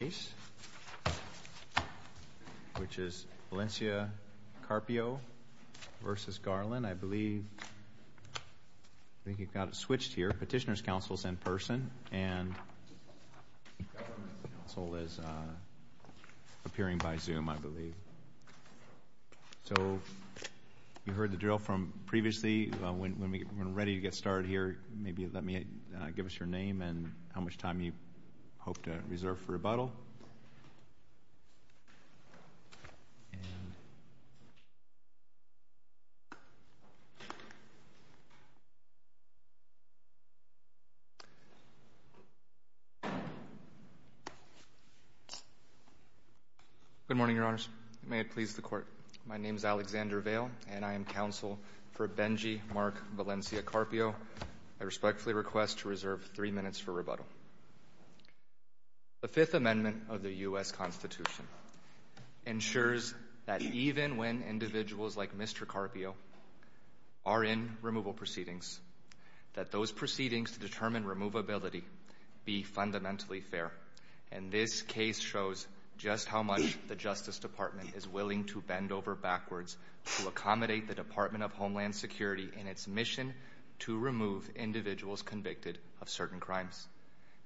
case, which is Valencia Carpio v. Garland. I believe we've got it switched here. Petitioner's counsel is in person, and government counsel is appearing by Zoom, I believe. So you heard the drill from previously. When we're ready to get started here, maybe let me give us your name and how much time you hope to reserve for rebuttal. Good morning, Your Honors. May it please the Court. My name is Alexander Vail, and I am going to reserve three minutes for rebuttal. The Fifth Amendment of the U.S. Constitution ensures that even when individuals like Mr. Carpio are in removal proceedings, that those proceedings to determine removability be fundamentally fair. And this case shows just how much the Justice Department is willing to bend over backwards to accommodate the Department of Homeland Security's misapplication of certain crimes.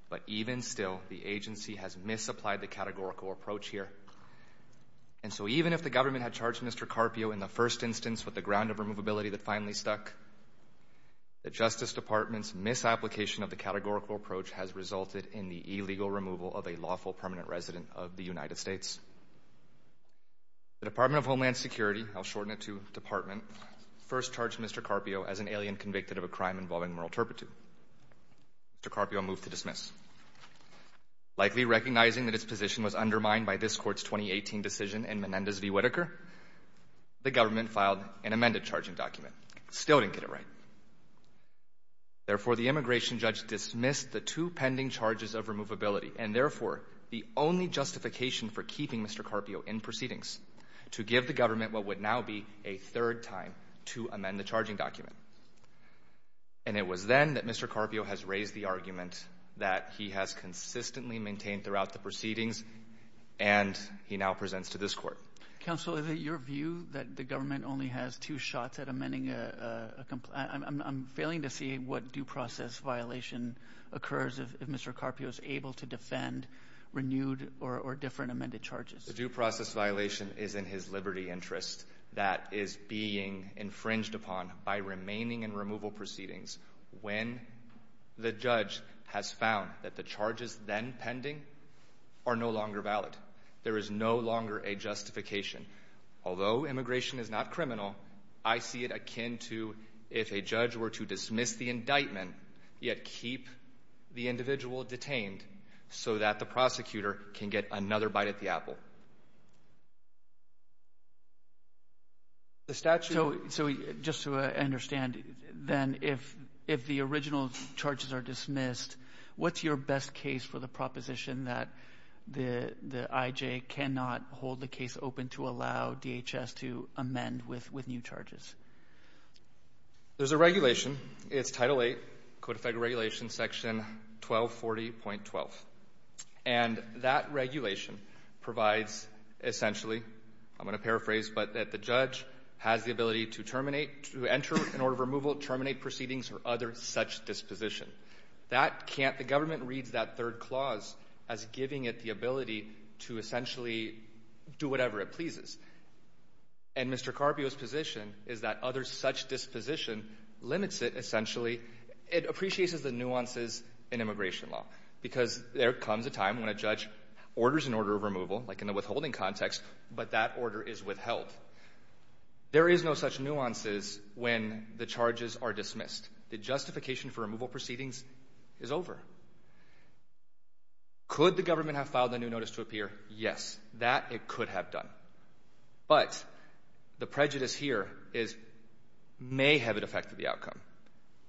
But even still, the agency has misapplied the categorical approach here. And so even if the government had charged Mr. Carpio in the first instance with the ground of removability that finally stuck, the Justice Department's misapplication of the categorical approach has resulted in the illegal removal of a lawful permanent resident of the United States. The Department of Homeland Security, I'll shorten it to Department, first charged Mr. Carpio as an alien convicted of a crime involving moral turpitude. Mr. Carpio moved to dismiss. Likely recognizing that his position was undermined by this Court's 2018 decision in Menendez v. Whitaker, the government filed an amended charging document. Still didn't get it right. Therefore, the immigration judge dismissed the two pending charges of removability, and therefore the only justification for keeping Mr. Carpio in proceedings to give the government what would now be a third time to amend the It was then that Mr. Carpio has raised the argument that he has consistently maintained throughout the proceedings, and he now presents to this Court. Counsel, is it your view that the government only has two shots at amending a complaint? I'm failing to see what due process violation occurs if Mr. Carpio is able to defend renewed or different amended charges. The due process violation is in his liberty interest that is being infringed upon by remaining in removal proceedings when the judge has found that the charges then pending are no longer valid. There is no longer a justification. Although immigration is not criminal, I see it akin to if a judge were to dismiss the indictment, yet keep the individual detained so that the prosecutor can get another bite at the apple. So, just to understand, then, if the original charges are dismissed, what's your best case for the proposition that the IJ cannot hold the case open to allow DHS to amend with new charges? There's a regulation. It's Title VIII, Code of Federal Regulations, Section 1240.12. And that regulation provides, essentially, I'm going to paraphrase, but that the judge has the ability to terminate, to enter an order of removal, terminate proceedings, or other such disposition. That can't — the government reads that third clause as giving it the ability to essentially do whatever it pleases. And Mr. Carpio's position is that other such disposition limits it, essentially — it appreciates the nuances in immigration law, because there are other such orders in order of removal, like in the withholding context, but that order is withheld. There is no such nuances when the charges are dismissed. The justification for removal proceedings is over. Could the government have filed a new notice to appear? Yes. That, it could have done. But the prejudice here is — may have it affected the outcome.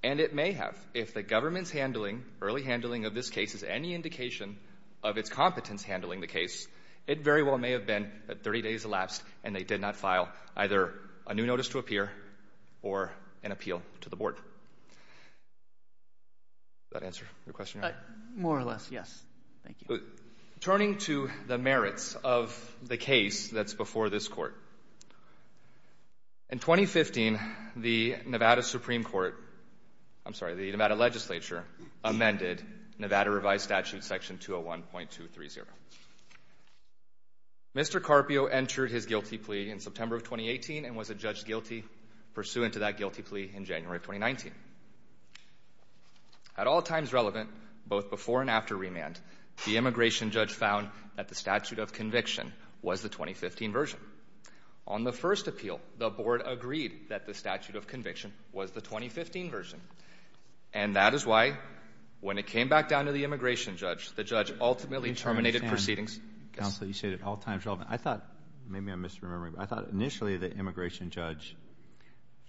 And it may have, if the government's handling, early handling of this case is any indication of its competence handling the case, it very well may have been that 30 days elapsed and they did not file either a new notice to appear or an appeal to the board. Does that answer your question? More or less, yes. Thank you. Turning to the merits of the case that's before this Court, in 2015, the Nevada Supreme Legislature amended Nevada Revised Statute Section 201.230. Mr. Carpio entered his guilty plea in September of 2018 and was adjudged guilty pursuant to that guilty plea in January of 2019. At all times relevant, both before and after remand, the immigration judge found that the statute of conviction was the 2015 version. On the first appeal, the board agreed that the statute of conviction was the 2015 version. And that is why, when it came back down to the immigration judge, the judge ultimately terminated proceedings — Counsel, you said at all times relevant. I thought — maybe I'm misremembering, but I thought initially the immigration judge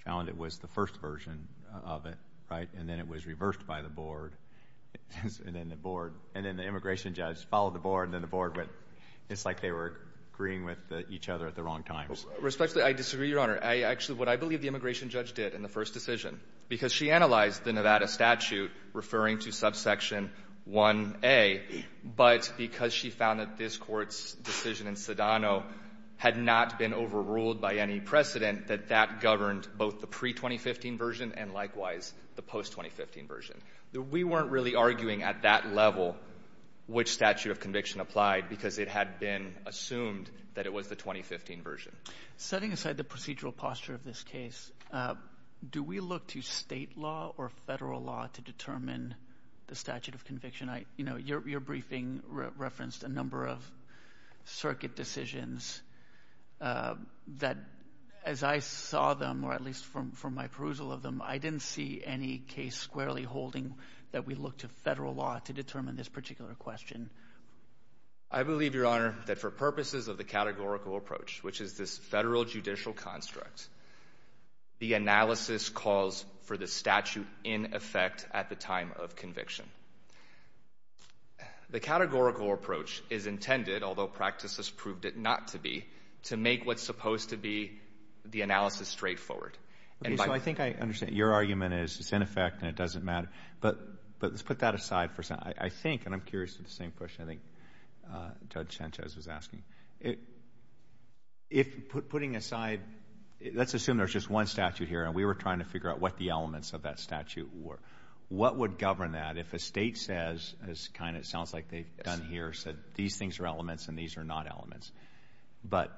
found it was the first version of it, right? And then it was reversed by the board. And then the board — and then the immigration judge followed the board, and then the board went — it's like they were agreeing with each other at the wrong times. Respectfully, I disagree, Your Honor. I — actually, what I believe the immigration judge did in the first decision, because she analyzed the Nevada statute referring to subsection 1A, but because she found that this Court's decision in Sedano had not been overruled by any precedent, that that governed both the pre-2015 version and, likewise, the post-2015 version. We weren't really arguing at that level which statute of conviction applied because it had been assumed that it was the 2015 version. Setting aside the procedural posture of this case, do we look to state law or federal law to determine the statute of conviction? I — you know, your briefing referenced a number of circuit decisions that, as I saw them, or at least from my perusal of them, I didn't see any case squarely holding that we look to federal law to determine this particular question. I believe, Your Honor, that for purposes of the categorical approach, which is this federal judicial construct, the analysis calls for the statute in effect at the time of conviction. The categorical approach is intended, although practices proved it not to be, to make what's supposed to be the analysis straightforward. Okay. So I think I understand. Your argument is it's in effect and it doesn't matter. But let's put that aside for a second. I think, and I'm curious of the same question I think Judge Sanchez was asking. If, putting aside, let's assume there's just one statute here and we were trying to figure out what the elements of that statute were. What would govern that if a state says, as kind of sounds like they've done here, said these things are elements and these are not elements? But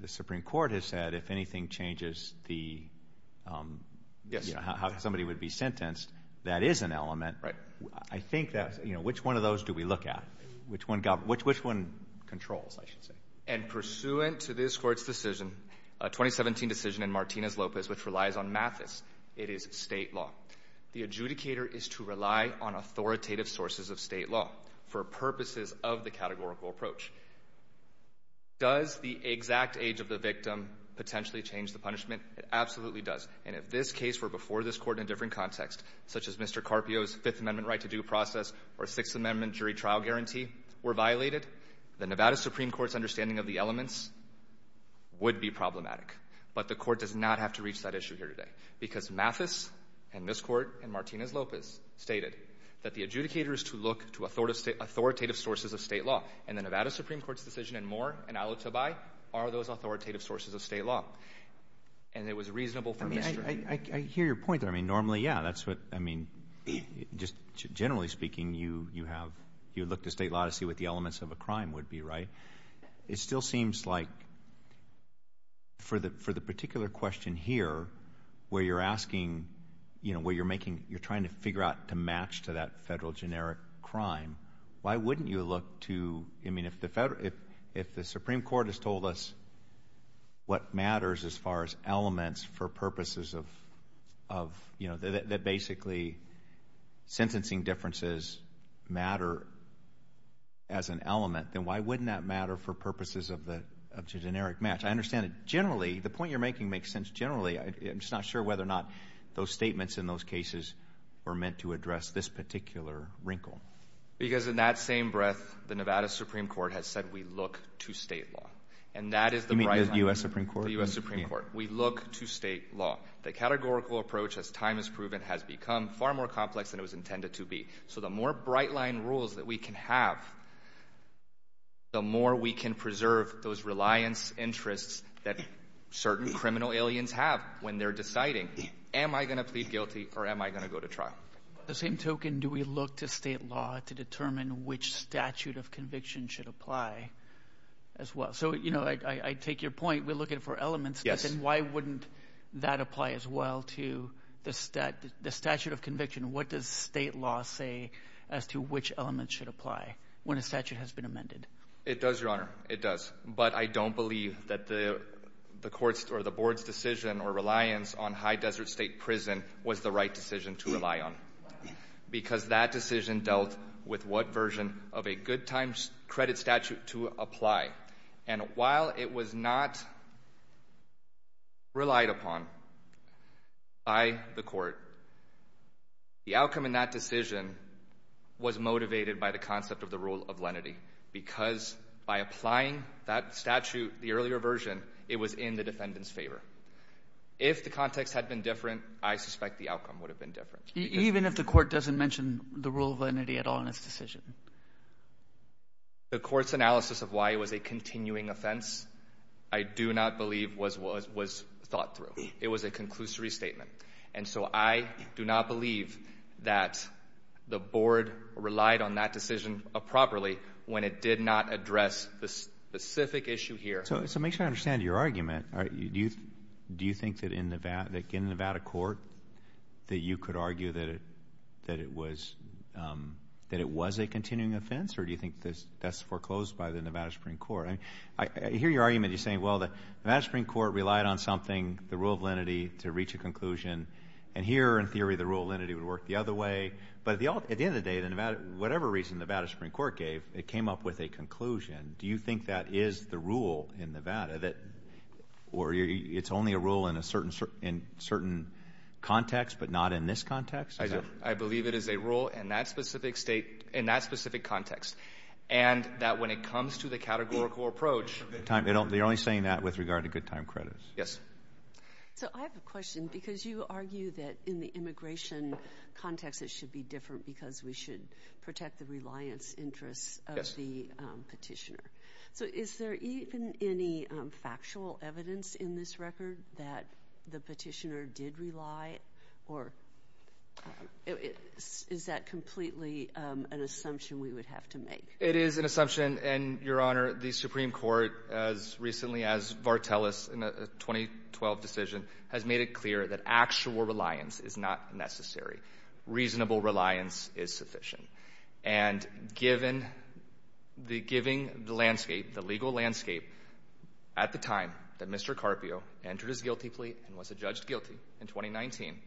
the Supreme Court has said if anything changes the, you know, how somebody would be sentenced, that is an element. I think that, you know, which one of those do we look at? Which one controls, I should say? And pursuant to this Court's decision, a 2017 decision in Martinez-Lopez, which relies on Mathis, it is state law. The adjudicator is to rely on authoritative sources of state law for purposes of the categorical approach. Does the exact age of the victim potentially change the punishment? It absolutely does. And if this case were before this Court in a different context, such as Mr. Carpio's Fifth Amendment right to due process or Sixth Amendment jury trial guarantee were violated, the Nevada Supreme Court's understanding of the elements would be problematic. But the Court does not have to reach that issue here today. Because Mathis and this Court and Martinez-Lopez stated that the adjudicator is to look to authoritative sources of state law. And the Nevada Supreme Court's decision in Moore and Alitabai are those authoritative sources of state law. And it was reasonable for Mr.... I mean, I hear your point there. I mean, normally, yeah, that's what, I mean, just generally speaking, you have, you look to state law to see what the elements of a crime would be, right? It still seems like for the particular question here, where you're asking, you know, where you're making, you're trying to figure out to match to that federal generic crime, why wouldn't you look to, I mean, if the Supreme Court has told us what matters as far as elements for purposes of, you know, that basically sentencing differences matter as an element, then why wouldn't that matter for purposes of the generic match? I understand that generally, the point you're making makes sense generally. I'm just not sure whether or not those statements in those cases were meant to address this particular wrinkle. Because in that same breath, the Nevada Supreme Court has said we look to state law. And that is the right... You mean the U.S. Supreme Court? The U.S. Supreme Court. We look to state law. The categorical approach, as time has proven, has become far more complex than it was intended to be. So the more bright-line rules that we can have, the more we can preserve those reliance interests that certain criminal aliens have when they're deciding, am I going to plead guilty or am I going to go to trial? The same token, do we look to state law to determine which statute of conviction should apply as well? So, you know, I take your point. We look at it for elements, but then why wouldn't that apply as well to the statute of conviction? What does state law say as to which elements should apply when a statute has been amended? It does, Your Honor. It does. But I don't believe that the Court's or the Board's decision or reliance on high desert state prison was the right decision to rely on, because that decision dealt with what version of a good times credit statute to apply. And while it was not relied upon by the Court, the outcome in that decision was motivated by the concept of the rule of lenity, because by applying that statute, the earlier version, it was in the defendant's favor. If the context had been different, I suspect the outcome would have been different. Even if the Court doesn't mention the rule of lenity at all in its decision? The Court's analysis of why it was a continuing offense I do not believe was thought through. It was a conclusory statement. And so I do not believe that the Board relied on that decision properly when it did not address the specific issue here. So make sure I understand your argument. Do you think that in Nevada Court that you could argue that it was a continuing offense, or do you think that's foreclosed by the Nevada Supreme Court? I hear your argument, you're saying, well, the Nevada Supreme Court relied on something, the rule of lenity, to reach a conclusion. And here, in theory, the rule of lenity would work the other way. But at the end of the day, whatever reason the Nevada Supreme Court relied on, it's only a rule in a certain context, but not in this context? I believe it is a rule in that specific state, in that specific context. And that when it comes to the categorical approach... You're only saying that with regard to good time credits. Yes. So I have a question, because you argue that in the immigration context it should be different because we should protect the reliance interests of the petitioner. So is there even any factual evidence in this record that the petitioner did rely, or is that completely an assumption we would have to make? It is an assumption, and, Your Honor, the Supreme Court, as recently as Vartelis in a 2012 decision, has made it clear that actual reliance is not necessary. Reasonable reliance is sufficient. And given the landscape, the legal landscape, at the time that Mr. Carpio entered his guilty plea and was adjudged guilty in 2019,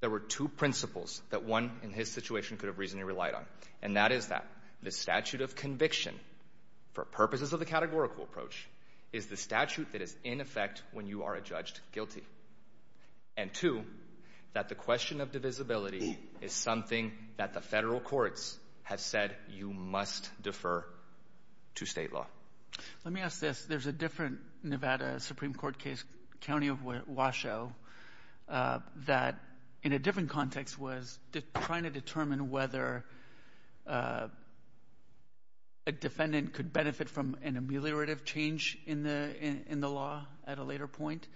there were two principles that one in his situation could have reasonably relied on, and that is that the statute of conviction for purposes of the categorical approach is the statute that is in effect when you are adjudged guilty, and two, that the question of divisibility is something that the federal courts have said you must defer to state law. Let me ask this. There's a different Nevada Supreme Court case, County of Washoe, that in a different context was trying to determine whether a defendant could benefit from an adjudication in the law at a later point,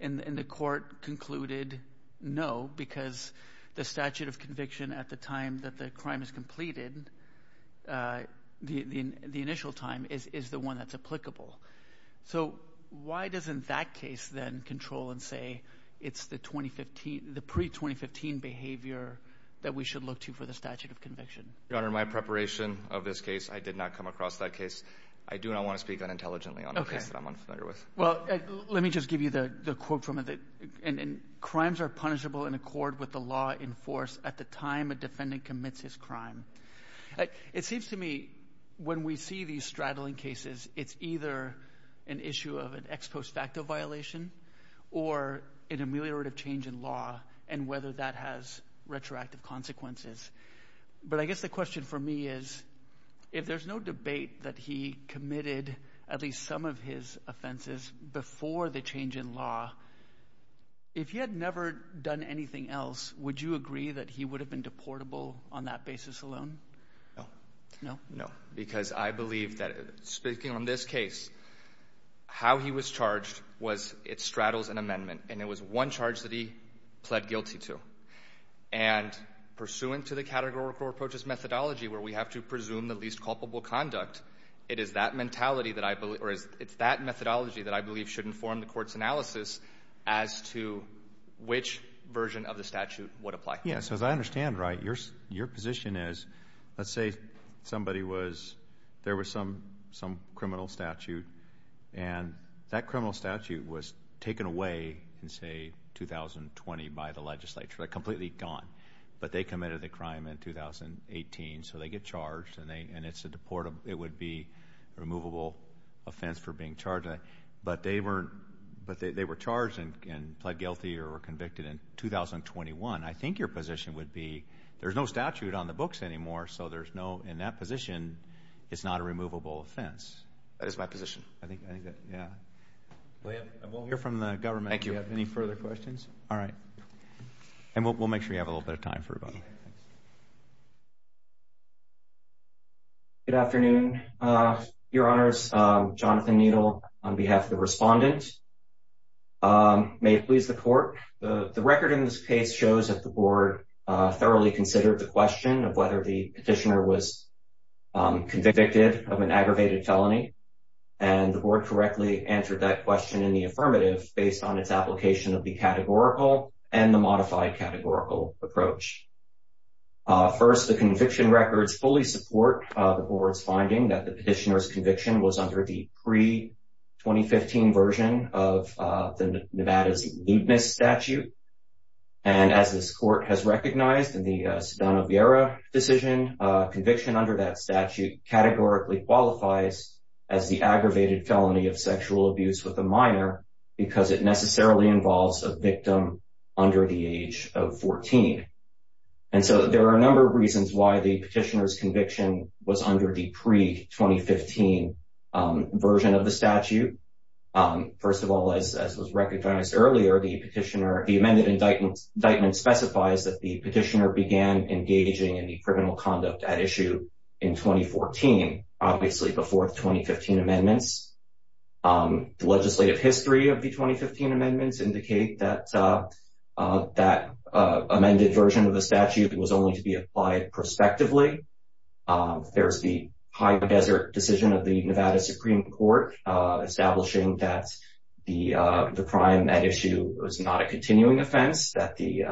and the court concluded no, because the statute of conviction at the time that the crime is completed, the initial time, is the one that's applicable. So why doesn't that case then control and say it's the pre-2015 behavior that we should look to for the statute of conviction? Your Honor, in my preparation of this case, I did not come across that case. I do not want to speak unintelligently on a case that I'm unfamiliar with. Let me just give you the quote from it. Crimes are punishable in accord with the law enforced at the time a defendant commits his crime. It seems to me when we see these straddling cases, it's either an issue of an ex post facto violation or an ameliorative change in law and whether that has retroactive consequences. But I guess the question for me is, if there's no debate that he committed at least some of his offenses before the change in law, if he had never done anything else, would you agree that he would have been deportable on that basis alone? No. No? No, because I believe that, speaking on this case, how he was charged was it straddles an amendment, and it was one charge that he pled guilty to. And pursuant to the categorical approaches methodology where we have to presume the least culpable conduct, it is that methodology that I believe should inform the court's analysis as to which version of the statute would apply. Yeah, so as I understand, right, your position is, let's say somebody was, there was some criminal statute, and that criminal statute was taken away in, say, 2020 by the legislature, completely gone. But they committed the crime in 2018, so they get charged, and it's a deportable, it would be a removable offense for being charged. But they were charged and pled guilty or were convicted in 2021. I think your position would be, there's no statute on the books anymore, so there's no, in that position, it's not a removable offense. That is my position. I think that, yeah. Well, we'll hear from the government if you have any further questions. All right. And we'll make sure you have a little bit of time for rebuttal. Good afternoon, your honors. Jonathan Needle on behalf of the respondent. May it please the court. The record in this case shows that the board thoroughly considered the question of whether the petitioner was convicted of an aggravated felony, and the board correctly answered that question in the affirmative based on its application of the categorical and the modified categorical approach. First, the conviction records fully support the board's finding that the petitioner's conviction was under the pre-2015 version of the Nevada's Ludmus statute. And as this court has recognized in the Sedano-Vieira decision, conviction under that statute categorically qualifies as the aggravated felony of sexual abuse with a minor because it necessarily involves a victim under the age of 14. And so there are a number of reasons why the petitioner's conviction was under the pre-2015 version of the statute. First of all, as was recognized earlier, the petitioner, the amended indictment specifies that the petitioner began engaging in the criminal conduct at issue in 2014, obviously before the 2015 amendments. The legislative history of the 2015 amendments indicate that that amended version of the statute was only to be applied prospectively. There's the High Desert decision of the Nevada Supreme Court establishing that the crime at issue was not a continuing offense, that the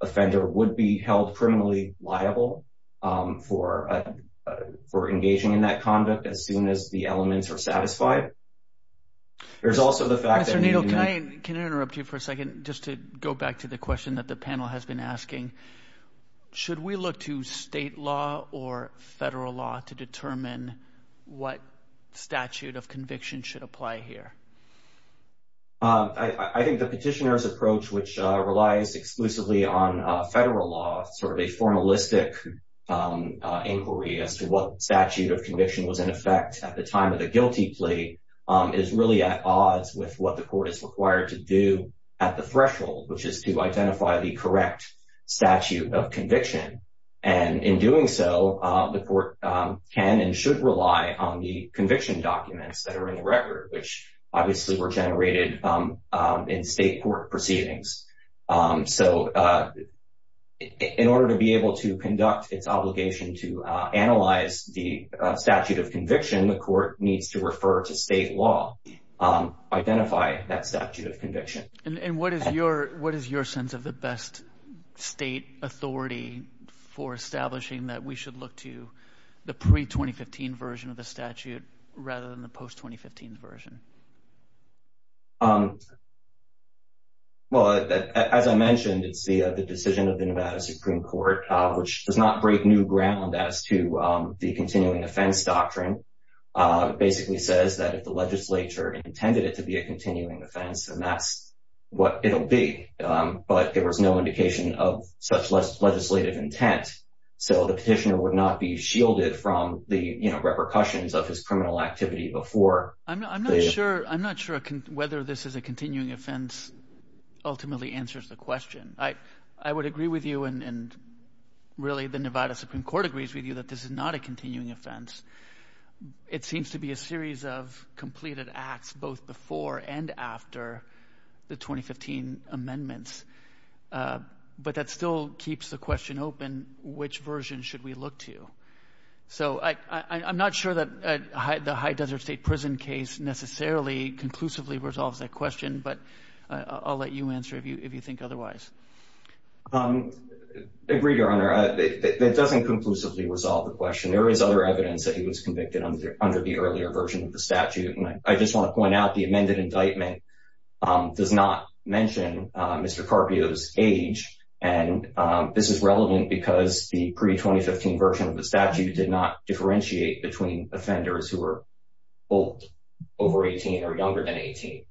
offender would be held criminally liable for engaging in that conduct as soon as the elements are satisfied. There's also the fact that... Mr. Nadel, can I interrupt you for a second just to go back to the question that the panel has been asking? Should we look to state law or federal law to determine what statute of conviction should apply here? I think the petitioner's approach, which relies exclusively on federal law, sort of a formalistic inquiry as to what statute of conviction was in effect at the time of the guilty plea, is really at odds with what the court is required to do at the threshold, which is to identify the correct statute of conviction. And in doing so, the court can and should rely on the conviction documents that are in the record, which obviously were generated in state court proceedings. So in order to be able to conduct its obligation to analyze the statute of conviction, the court needs to refer to state law, identify that statute of conviction. And what is your sense of the best state authority for establishing that we should look to the pre-2015 version of the statute rather than the post-2015 version? Well, as I mentioned, it's the decision of the Nevada Supreme Court, which does not break new ground as to the continuing offense doctrine. It basically says that if the legislature intended it to be a continuing offense, then that's what it'll be. But there was no indication of such legislative intent. So the petitioner would not be shielded from the repercussions of his criminal activity before. I'm not sure whether this is a continuing offense ultimately answers the question. I would agree with you and really the Nevada Supreme Court agrees with you that this is not a continuing offense. It seems to be a series of completed acts both before and after the 2015 amendments. But that still keeps the question open, which version should we look to? So I'm not sure that the High Desert State Prison case necessarily conclusively resolves that question, but I'll let you answer if you think otherwise. I agree, Your Honor. It doesn't conclusively resolve the question. There is other evidence that he was convicted under the earlier version of the statute. And I just want to point out the mention of Mr. Carpio's age. And this is relevant because the pre-2015 version of the statute did not differentiate between offenders who were old, over 18 or younger than 18.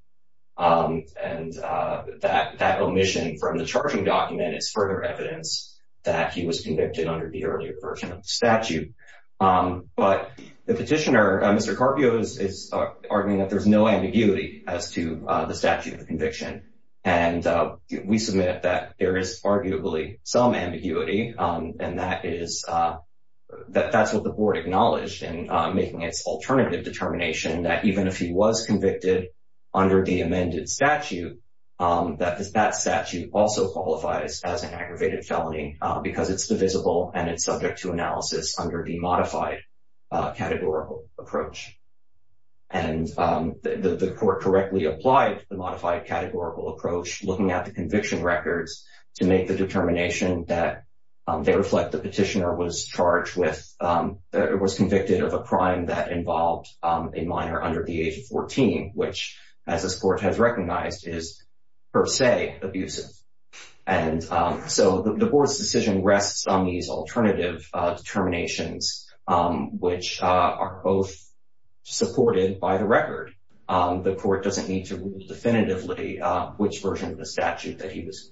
And that omission from the charging document is further evidence that he was convicted under the earlier version of the statute. But the petitioner, Mr. Carpio, is arguing that there's no ambiguity as to the conviction. And we submit that there is arguably some ambiguity. And that's what the Board acknowledged in making its alternative determination that even if he was convicted under the amended statute, that that statute also qualifies as an aggravated felony because it's divisible and it's subject to analysis under the modified categorical approach. And the Court correctly applied the modified categorical approach looking at the conviction records to make the determination that they reflect the petitioner was charged with, was convicted of a crime that involved a minor under the age of 14, which as this Court has recognized is per se abusive. And so the Board's decision rests on these alternative determinations which are both supported by the record. The Court doesn't need to rule definitively which version of the statute that he was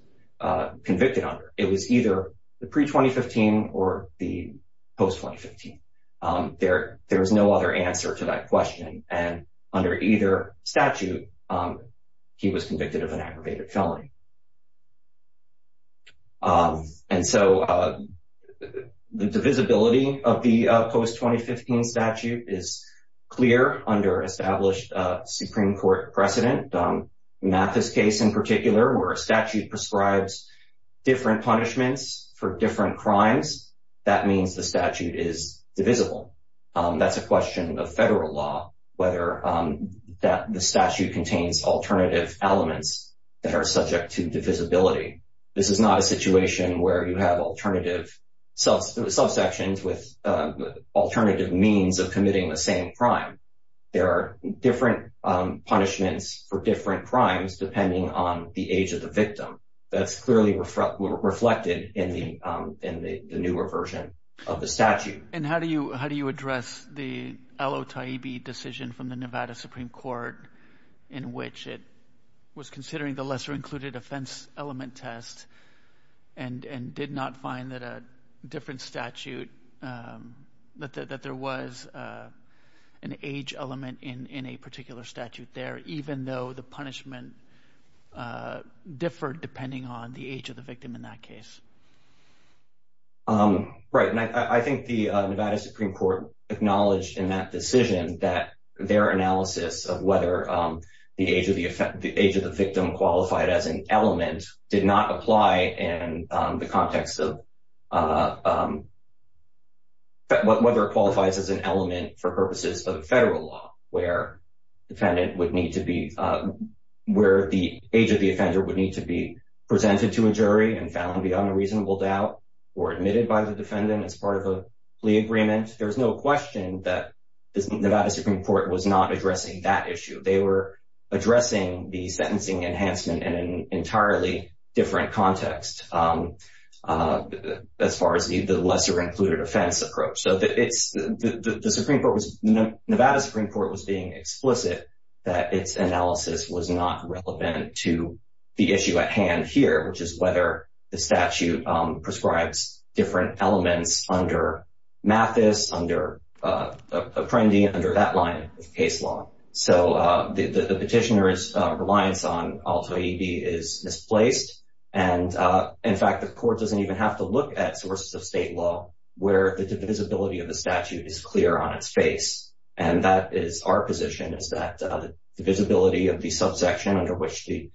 convicted under. It was either the pre-2015 or the post-2015. There is no other answer to that question. And under either statute, he was convicted of an aggravated felony. And so the divisibility of the post-2015 statute is clear under established Supreme Court precedent. Mathis case in particular, where a statute prescribes different punishments for different crimes, that means the statute is divisible. That's a question of federal law whether the alternative elements that are subject to divisibility. This is not a situation where you have alternative subsections with alternative means of committing the same crime. There are different punishments for different crimes depending on the age of the victim. That's clearly reflected in the newer version of the statute. And how do you address the which it was considering the lesser included offense element test and did not find that a different statute, that there was an age element in a particular statute there, even though the punishment differed depending on the age of the victim in that case? Right. And I think the Nevada Supreme Court acknowledged in that decision that their analysis of whether the age of the age of the victim qualified as an element did not apply in the context of whether it qualifies as an element for purposes of federal law where defendant would need to be where the age of the offender would need to be presented to a jury and found beyond a reasonable doubt or admitted by the defendant as part of a plea agreement. There's no question that the Nevada Supreme Court was not addressing that issue. They were addressing the sentencing enhancement in an entirely different context as far as the lesser included offense approach. So the Nevada Supreme Court was being explicit that its analysis was not relevant to the issue at hand here, which is whether the statute prescribes different elements under Mathis, under Apprendi, under that line of case law. So the petitioner's reliance on Alta EB is misplaced. And in fact, the court doesn't even have to look at sources of state law where the divisibility of the statute is clear on its face. And that is our position is that the visibility of the subsection under which the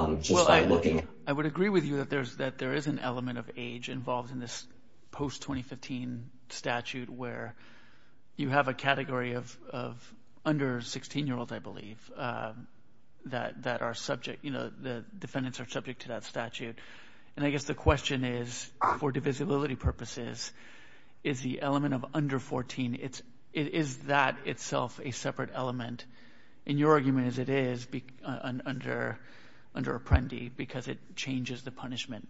looking, I would agree with you that there's that there is an element of age involved in this post 2015 statute where you have a category of of under 16 year olds, I believe, that that are subject, you know, the defendants are subject to that statute. And I guess the question is, for divisibility purposes, is the element of under 14. It's is that itself a separate element in your argument as it is under under Apprendi, because it changes the punishment?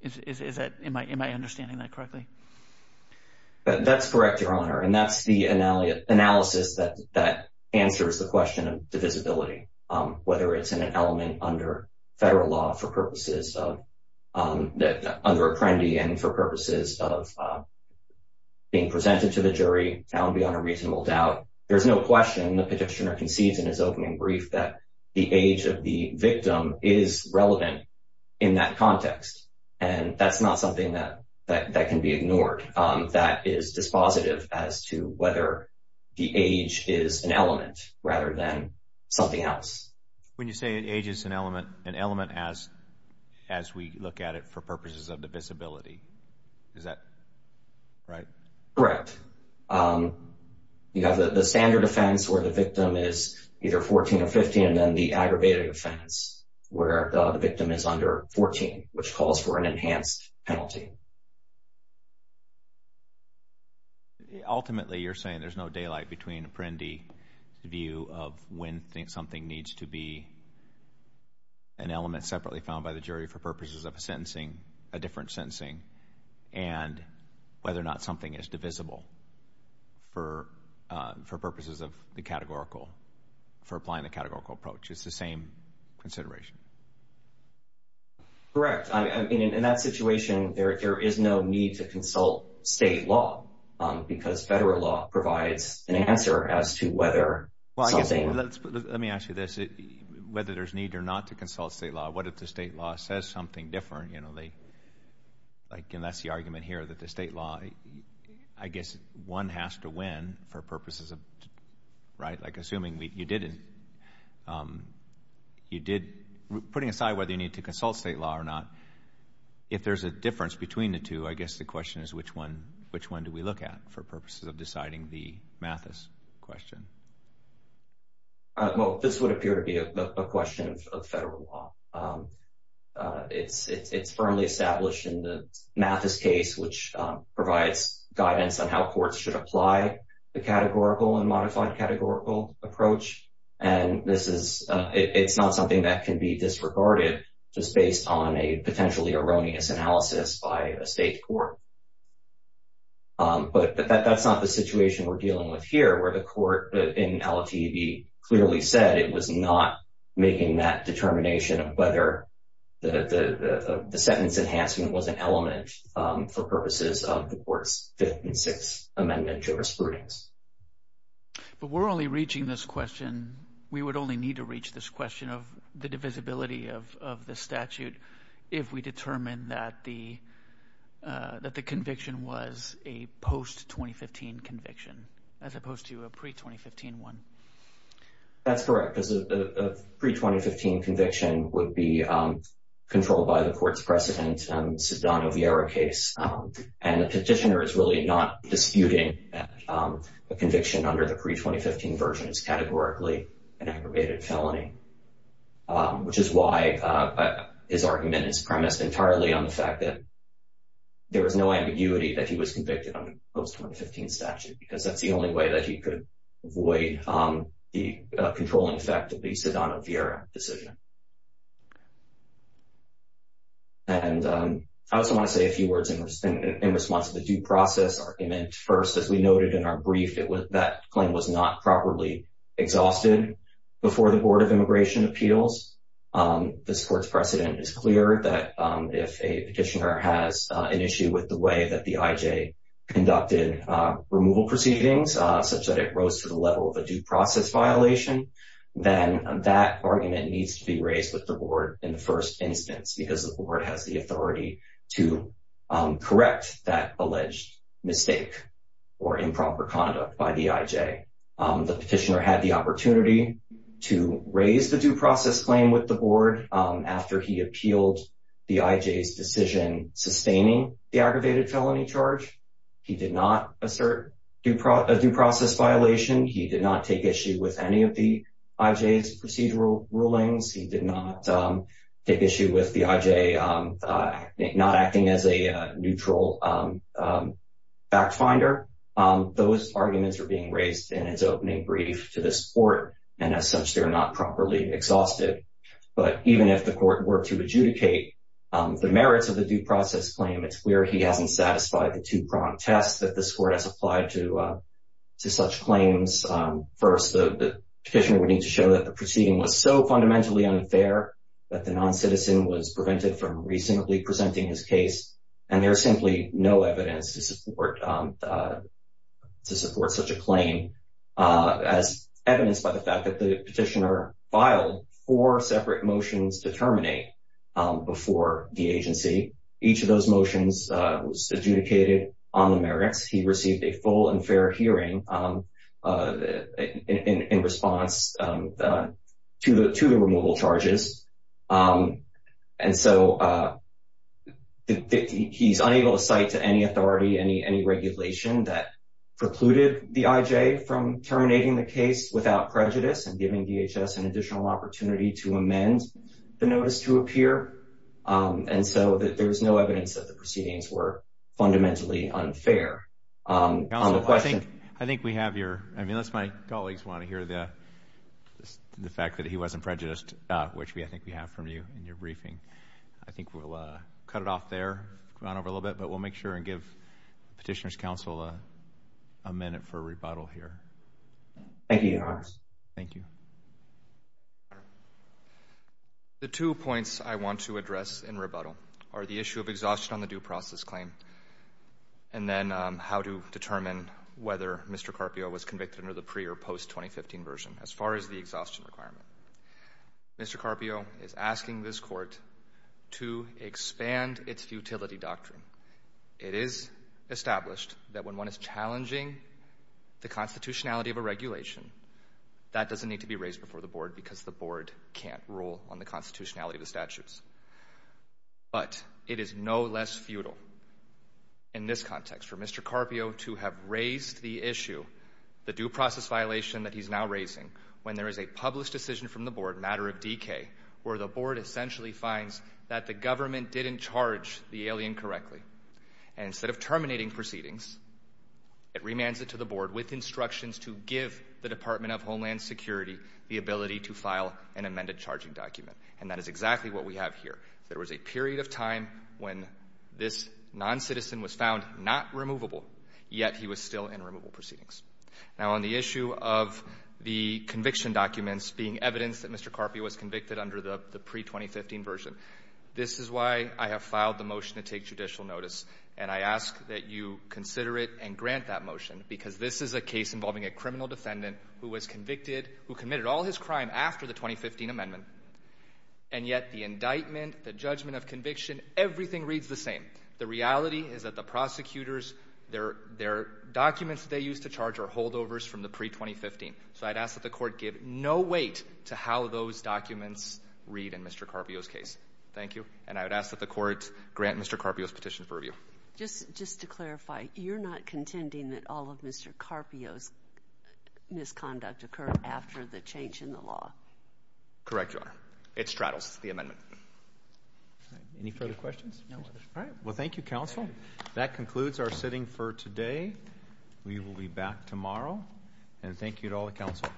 Is that in my understanding that correctly? That's correct, Your Honor. And that's the analysis that that answers the question of divisibility, whether it's in an element under federal law for purposes of that under Apprendi and for purposes of being presented to the jury. I would be on a reasonable doubt. There's no question the petitioner concedes in his opening brief that the age of the victim is relevant in that context. And that's not something that that can be ignored. That is dispositive as to whether the age is an element rather than something else. When you say age is an element, an element as as we look at it for purposes of divisibility, is that right? Correct. You have the standard offense where the victim is either 14 or 15, and then the aggravated offense where the victim is under 14, which calls for an enhanced penalty. Ultimately, you're saying there's no daylight between Apprendi to the view of when something needs to be an element separately found by the jury for purposes of a sentencing, a different sentencing, and whether or not something is divisible for purposes of the categorical, for applying the categorical approach. It's the same consideration? Correct. I mean, in that situation, there is no need to consult state law because federal law provides an answer as to whether something... Well, let me ask you this. Whether there's need or not to consult state law, what if the state law says something different, you know, like, and that's the argument here that the state law, I guess, one has to win for purposes of, right? Like, assuming you did, you did, putting aside whether you need to consult state law or not, if there's a difference between the two, I guess the question is, which one do we look at for purposes of deciding the Mathis question? Well, this would appear to be a question of federal law. It's firmly established in the Mathis case, which provides guidance on how courts should apply the categorical and modified categorical approach. And this is, it's not something that can be disregarded just based on a potentially erroneous analysis by a state court. But that's not the situation we're dealing with here, where the court in LTV clearly said it was not making that determination of whether the sentence enhancement was an element for purposes of the court's Fifth and Sixth Amendment jurisprudence. But we're only reaching this question, we would only need to reach this question of the divisibility of the statute if we determine that the conviction was a post-2015 conviction, as opposed to a pre-2015 one. That's correct, because a pre-2015 conviction would be controlled by the court's precedent, the Sedano-Vieira case. And the petitioner is really not disputing a conviction under the pre-2015 version is categorically an aggravated felony, which is why his argument is premised entirely on the fact that there is no ambiguity that he was convicted on a post-2015 statute, because that's the only way that he could avoid the controlling effect of the Sedano-Vieira decision. And I also want to say a few words in response to the due process argument. First, as we noted in our brief, that claim was not properly exhausted before the Board of Immigration Appeals. This court's precedent is clear that if a petitioner has an issue with the way that the IJ conducted removal proceedings, such that it rose to the level of a due process violation, then that argument needs to be raised with the Board in the first instance, because the Board has the authority to correct that alleged mistake or improper conduct by the IJ. The petitioner had the opportunity to raise the due process claim with the Board after he appealed the IJ's decision sustaining the aggravated felony charge. He did not assert a due process violation. He did not take issue with any of the IJ's procedural rulings. He did not take issue with the IJ not acting as a neutral fact finder. Those arguments are being raised in his opening brief to this Court, and as such, they're not properly exhausted. But even if the Court were to adjudicate the merits of the due process claim, it's where he hasn't satisfied the two-pronged test that this Court has applied to such claims. First, the petitioner would need to show that the proceeding was so fundamentally unfair that the non-citizen was prevented from reasonably presenting his case, and there's simply no evidence to support such a claim, as evidenced by the fact that the petitioner filed four separate motions to terminate before the agency. Each of those motions was adjudicated on the merits. He received a full and fair hearing in response to the removal charges, and so he's unable to cite to any authority any regulation that precluded the IJ from terminating the case without prejudice and giving DHS an additional opportunity to amend the notice to appear, and so there's no evidence that the proceedings were fundamentally unfair. Counsel, I think we have your, I mean, unless my colleagues want to hear the fact that he wasn't prejudiced, which I think we have from you in your briefing, I think we'll cut it off there, go on over a little bit, but we'll make sure and give Petitioner's Counsel a minute for rebuttal here. Thank you, Your Honor. Thank you. The two points I want to address in rebuttal are the how to determine whether Mr. Carpio was convicted under the pre- or post-2015 version, as far as the exhaustion requirement. Mr. Carpio is asking this Court to expand its futility doctrine. It is established that when one is challenging the constitutionality of a regulation, that doesn't need to be raised before the Board because the Board can't rule on the constitutionality of the statutes. But it is no less futile in this context for Mr. Carpio to have raised the issue, the due process violation that he's now raising, when there is a published decision from the Board, matter of decay, where the Board essentially finds that the government didn't charge the alien correctly, and instead of terminating proceedings, it remands it to the Board with instructions to give the Department of Homeland Security the ability to file an amended charging document, and that is exactly what we have here. There was a period of time when this non-citizen was found not removable, yet he was still in removable proceedings. Now, on the issue of the conviction documents being evidence that Mr. Carpio was convicted under the pre-2015 version, this is why I have filed the motion to take judicial notice, and I ask that you consider it and grant that motion because this is a case involving a criminal defendant who was convicted, who committed all his crime after the 2015 amendment, and yet the indictment, the judgment of conviction, everything reads the same. The reality is that the prosecutors, their documents they used to charge are holdovers from the pre-2015, so I'd ask that the Court give no weight to how those documents read in Mr. Carpio's case. Thank you, and I would ask that the Court grant Mr. Carpio's petition for review. Just to clarify, you're not contending that all of Mr. Carpio's conduct occurred after the change in the law? Correct, Your Honor. It straddles the amendment. Any further questions? All right, well, thank you, Counsel. That concludes our sitting for today. We will be back tomorrow, and thank you to all the Counsel.